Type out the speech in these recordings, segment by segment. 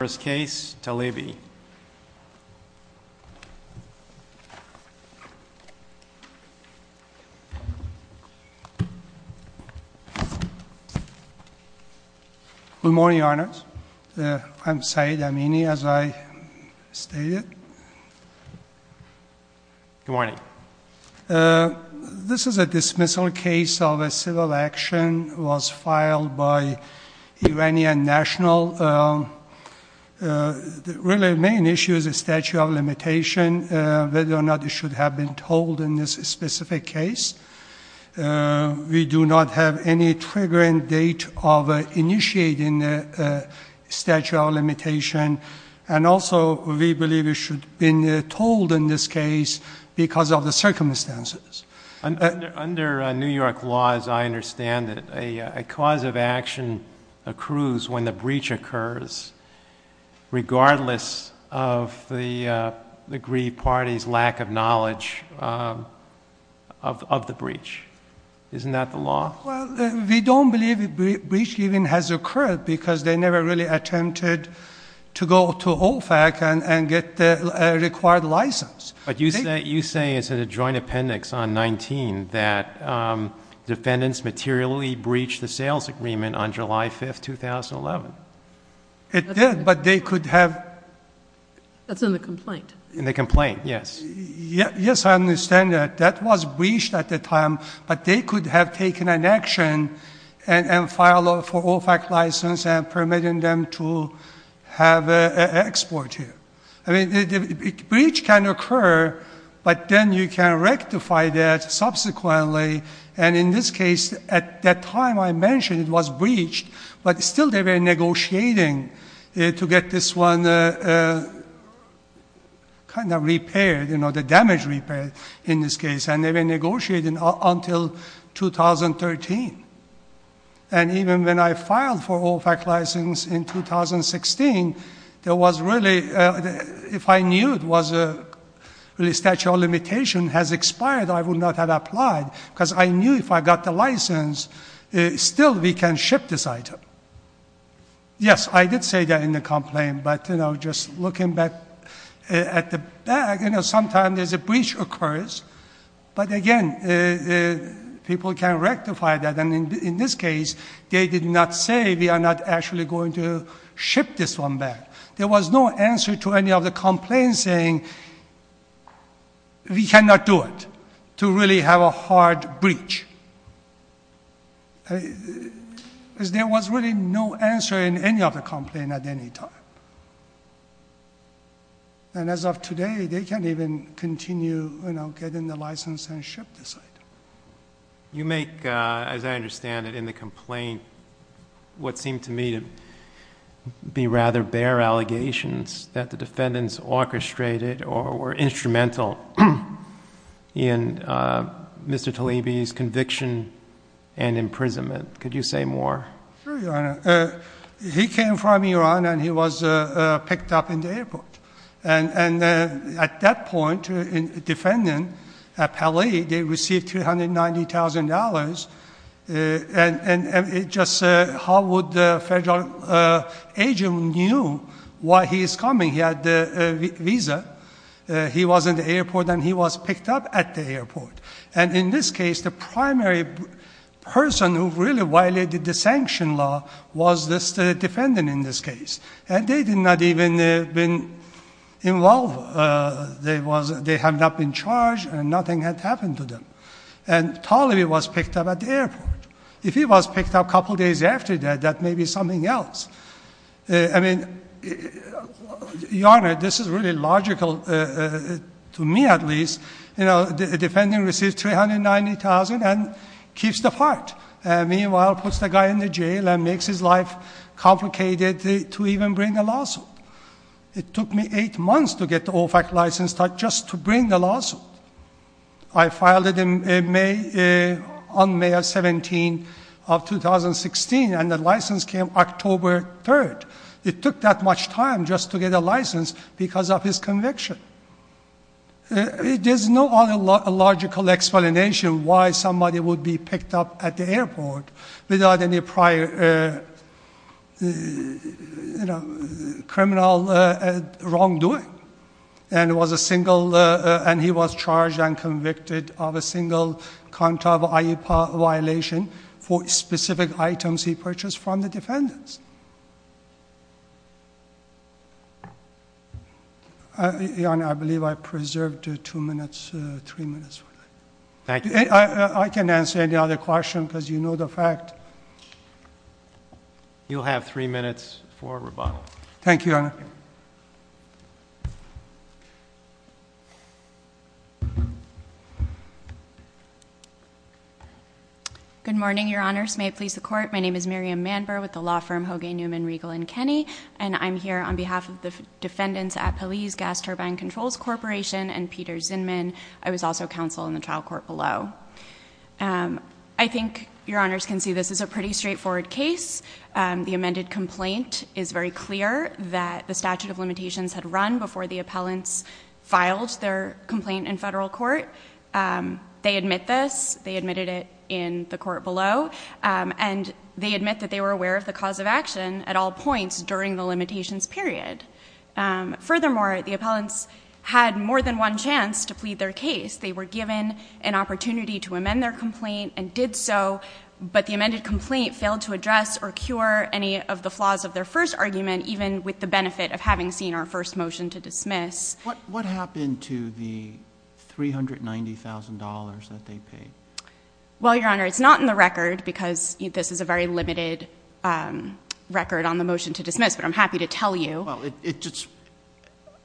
First case, Tlaibi. Good morning, Your Honor. I'm Saeed Amini, as I stated. Good morning. This is a dismissal case of a civil action that was filed by Iranian national. The really main issue is the statute of limitation, whether or not it should have been told in this specific case. We do not have any triggering date of initiating the statute of limitation. And also, we believe it should have been told in this case because of the circumstances. Under New York law, as I understand it, a cause of action accrues when the breach occurs, regardless of the aggrieved party's lack of knowledge of the breach. Isn't that the law? Well, we don't believe a breach even has occurred because they never really attempted to go to OFAC and get the required license. You say it's in a joint appendix on 19 that defendants materially breached the sales agreement on July 5th, 2011. It did, but they could have... That's in the complaint. In the complaint, yes. Yes, I understand that. That was breached at the time, but they could have taken an action and filed for OFAC license and permitted them to have an export here. I mean, a breach can occur, but then you can rectify that subsequently. And in this case, at that time I mentioned it was breached, but still they were negotiating to get this one kind of repaired, the damage repaired in this case. And they were negotiating until 2013. And even when I filed for OFAC license in 2016, there was really... if I knew it was a statute of limitation has expired, I would not have applied because I knew if I got the license, still we can ship this item. Yes, I did say that in the complaint, but just looking back at the back, sometimes there's a breach occurs, but again, people can rectify that. And in this case, they did not say we are not actually going to ship this one back. There was no answer to any of the complaints saying we cannot do it, to really have a hard breach. There was really no answer in any of the complaint at any time. And as of today, they can't even continue getting the license and ship this item. You make, as I understand it, in the complaint what seemed to me to be rather bare allegations that the defendants orchestrated or were instrumental in Mr. Tlaiby's conviction and imprisonment. Could you say more? Sure, Your Honor. He came from Iran and he was picked up in the airport. And at that point, the defendant, Paley, they received $390,000. And just how would the federal agent knew why he is coming? He had the visa. He was in the airport and he was picked up at the airport. And in this case, the primary person who really violated the sanction law was this defendant in this case. And they had not even been involved. They had not been charged and nothing had happened to them. And Tlaiby was picked up at the airport. If he was picked up a couple of days after that, that may be something else. I mean, Your Honor, this is really logical, to me at least. You know, the defendant received $390,000 and makes his life complicated to even bring a lawsuit. It took me eight months to get the OFAC license just to bring the lawsuit. I filed it on May 17, 2016 and the license came October 3. It took that much time just to get a license because of his conviction. There's no other logical explanation why somebody would be picked up at the airport without any prior criminal wrongdoing. And he was charged and convicted of a single countable IEPA violation for specific items he purchased from the defendants. Your Honor, I believe I preserved two minutes, three minutes. I can answer any other question because you have three minutes. You'll have three minutes for rebuttal. Thank you, Your Honor. Good morning, Your Honors. May it please the Court. My name is Miriam Manber with the law firm Hoagy, Newman, Riegel & Kenney. And I'm here on behalf of the defendants at Police Gas Turbine Controls Corporation and Peter Zinman. I was also counsel in the trial court below. I think Your Honors can see this is a pretty straightforward case. The amended complaint is very clear that the statute of limitations had run before the appellants filed their complaint in federal court. They admit this. They admitted it in the court below. And they admit that they were aware of the cause of action at all points during the limitations period. Furthermore, the appellants had more than one chance to plead their case. They were given an opportunity to amend their complaint and did so. But the amended complaint failed to address or cure any of the flaws of their first argument, even with the benefit of having seen our first motion to dismiss. What happened to the $390,000 that they paid? Well, Your Honor, it's not in the record because this is a very limited record on the motion to dismiss. But I'm happy to tell you.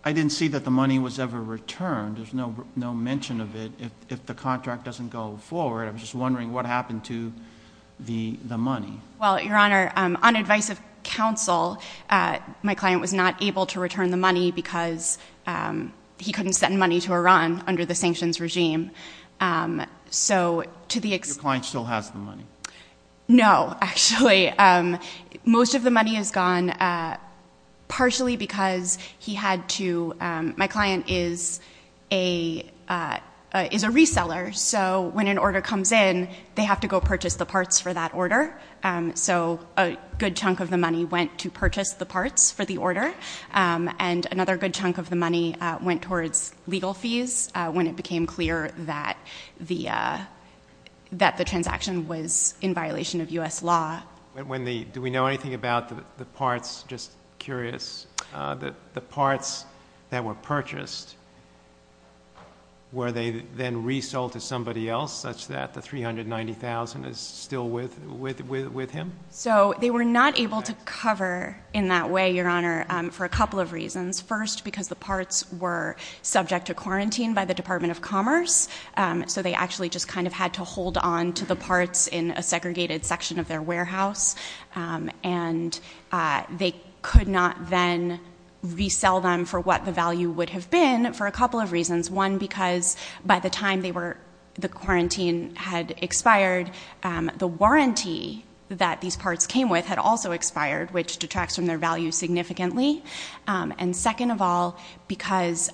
I didn't see that the money was ever returned. There's no mention of it if the contract doesn't go forward. I was just wondering what happened to the money? Well, Your Honor, on advice of counsel, my client was not able to return the money because he couldn't send money to Iran under the sanctions regime. So to the extent Your client still has the money? No, actually. Most of the money is gone partially because my client is a reseller. So when an order comes in, they have to go purchase the parts for that order. So a good chunk of the money went to purchase the parts for the order. And another good chunk of the money went towards legal fees when it became clear that the transaction was in violation of U.S. law. Do we know anything about the parts? Just curious. The parts that were purchased, were they then resold to somebody else such that the $390,000 is still with him? So they were not able to cover in that way, Your Honor, for a couple of reasons. First, because the parts were subject to quarantine by the Department of Commerce. So they actually just kind of had to hold on to the parts in a segregated section of their warehouse. And they could not then resell them for what the value would have been for a couple of reasons. One, because by the time the quarantine had expired, the warranty that these parts came with had also expired, which detracts from their value significantly. And second of all, because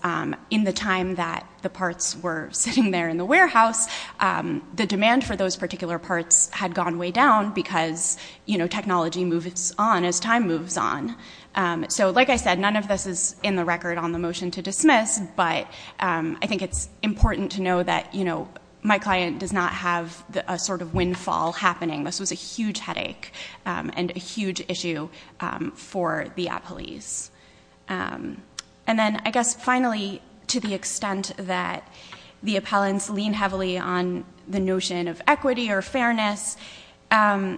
in the time that the parts were sitting there in the warehouse, the demand for those particular parts had gone way down because technology moves on as time moves on. So like I said, none of this is in the record on the motion to dismiss, but I think it's important to know that my client does not have a sort of windfall happening. This was a huge headache and a huge issue for the appellees. And then I guess finally, to the extent that the appellants lean heavily on the notion of equity or fairness, I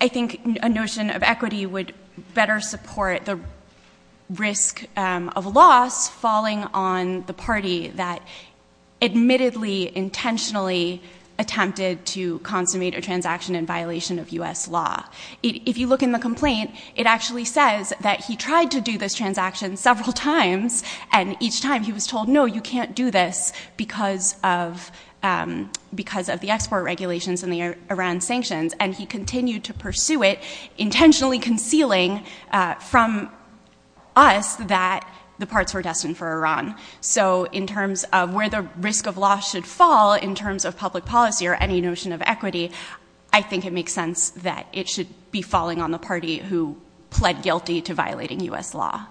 think a notion of equity would better support the risk of loss falling on the party that admittedly intentionally attempted to consummate a transaction in violation of U.S. law. If you look in the complaint, it actually says that he tried to do this transaction several times, and each time he was told, no, you can't do this because of the export regulations and the Iran sanctions. And he continued to pursue it, intentionally concealing from us that the parts were destined for Iran. So in terms of where the risk of loss should fall in terms of public policy or any notion of equity, I think it makes sense that it should be a part of the U.S. law.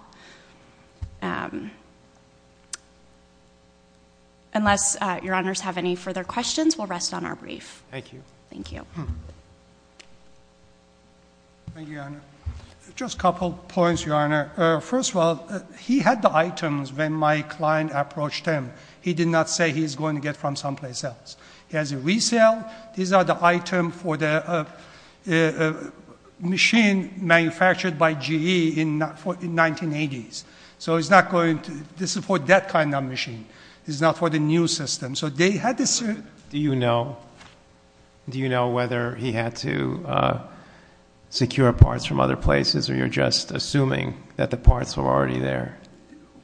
Unless Your Honors have any further questions, we'll rest on our brief. Thank you. Thank you. Thank you, Your Honor. Just a couple of points, Your Honor. First of all, he had the items when my client approached him. He did not say he's going to get from someplace else. He has a resale. These are the items for the machine manufactured by GE in 1980s. So it's not going to—this is for that kind of machine. It's not for the new system. So they had this— Do you know whether he had to secure parts from other places, or you're just assuming that the parts were already there?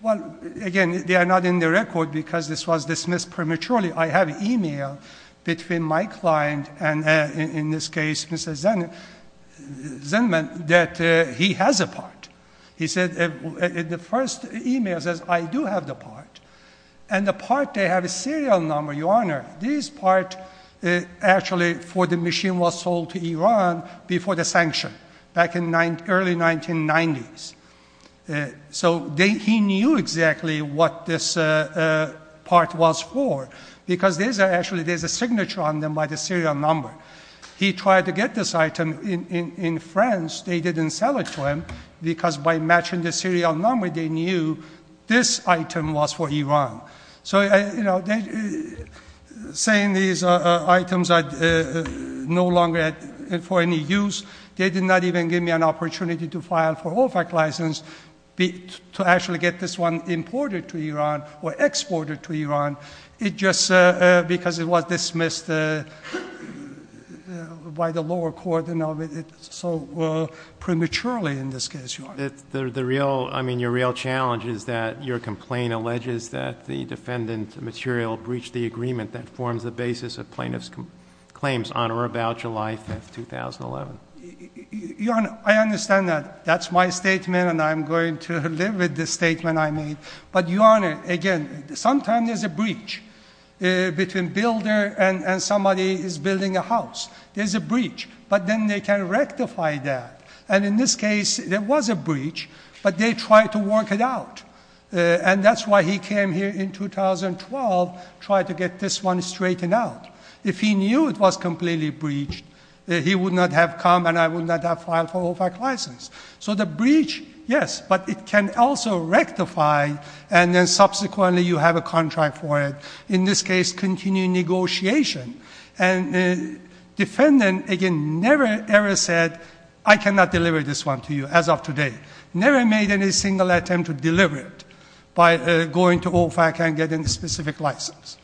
Well, again, they are not in the record because this was dismissed prematurely. I have email between my client and, in this case, Mr. Zinnman, that he has a part. He said, at the first email, he says, I do have the part. And the part, they have a serial number, Your Honor. This part, actually, for the machine was sold to Iran before the sanction, back in the early 1990s. So he knew exactly what this part was for because there's a—actually, there's a signature on them by the serial number. He tried to get this item in France. They didn't sell it to him because by matching the serial number, they knew this item was for Iran. So saying these items are no longer for any use, they did not even give me an opportunity to file for OFAC license to actually get this one imported to Iran or exported to Iran, just because it was dismissed by the lower court so prematurely, in this case, Your Honor. The real—I mean, your real challenge is that your complaint alleges that the defendant material breached the agreement that forms the basis of plaintiff's claims on or about July 5, 2011. I understand that. That's my statement, and I'm going to live with the statement I made. But Your Honor, again, sometimes there's a breach between builder and somebody is building a house. There's a breach, but then they can rectify that. And in this case, there was a breach, but they tried to work it out. And that's why he came here in 2012, tried to get this one straightened out. If he knew it was completely breached, he would not have come and I would not have filed for OFAC license. So the breach, yes, but it can also rectify, and then subsequently you have a contract for it, in this case, continuing negotiation. And the defendant, again, never, ever said, I cannot deliver this one to you as of today. Never made any single attempt to deliver it by going to OFAC and getting a specific license.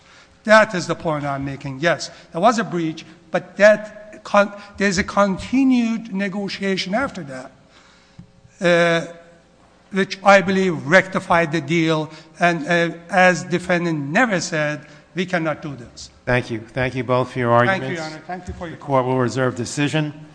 That is the point I'm making. Yes, there was a breach, but that—there's a continued negotiation after that, which I believe rectified the deal. And as defendant never said, we cannot do this. Thank you. Thank you both for your arguments. Thank you, Your Honor. Thank you for your time. The Court will reserve decision.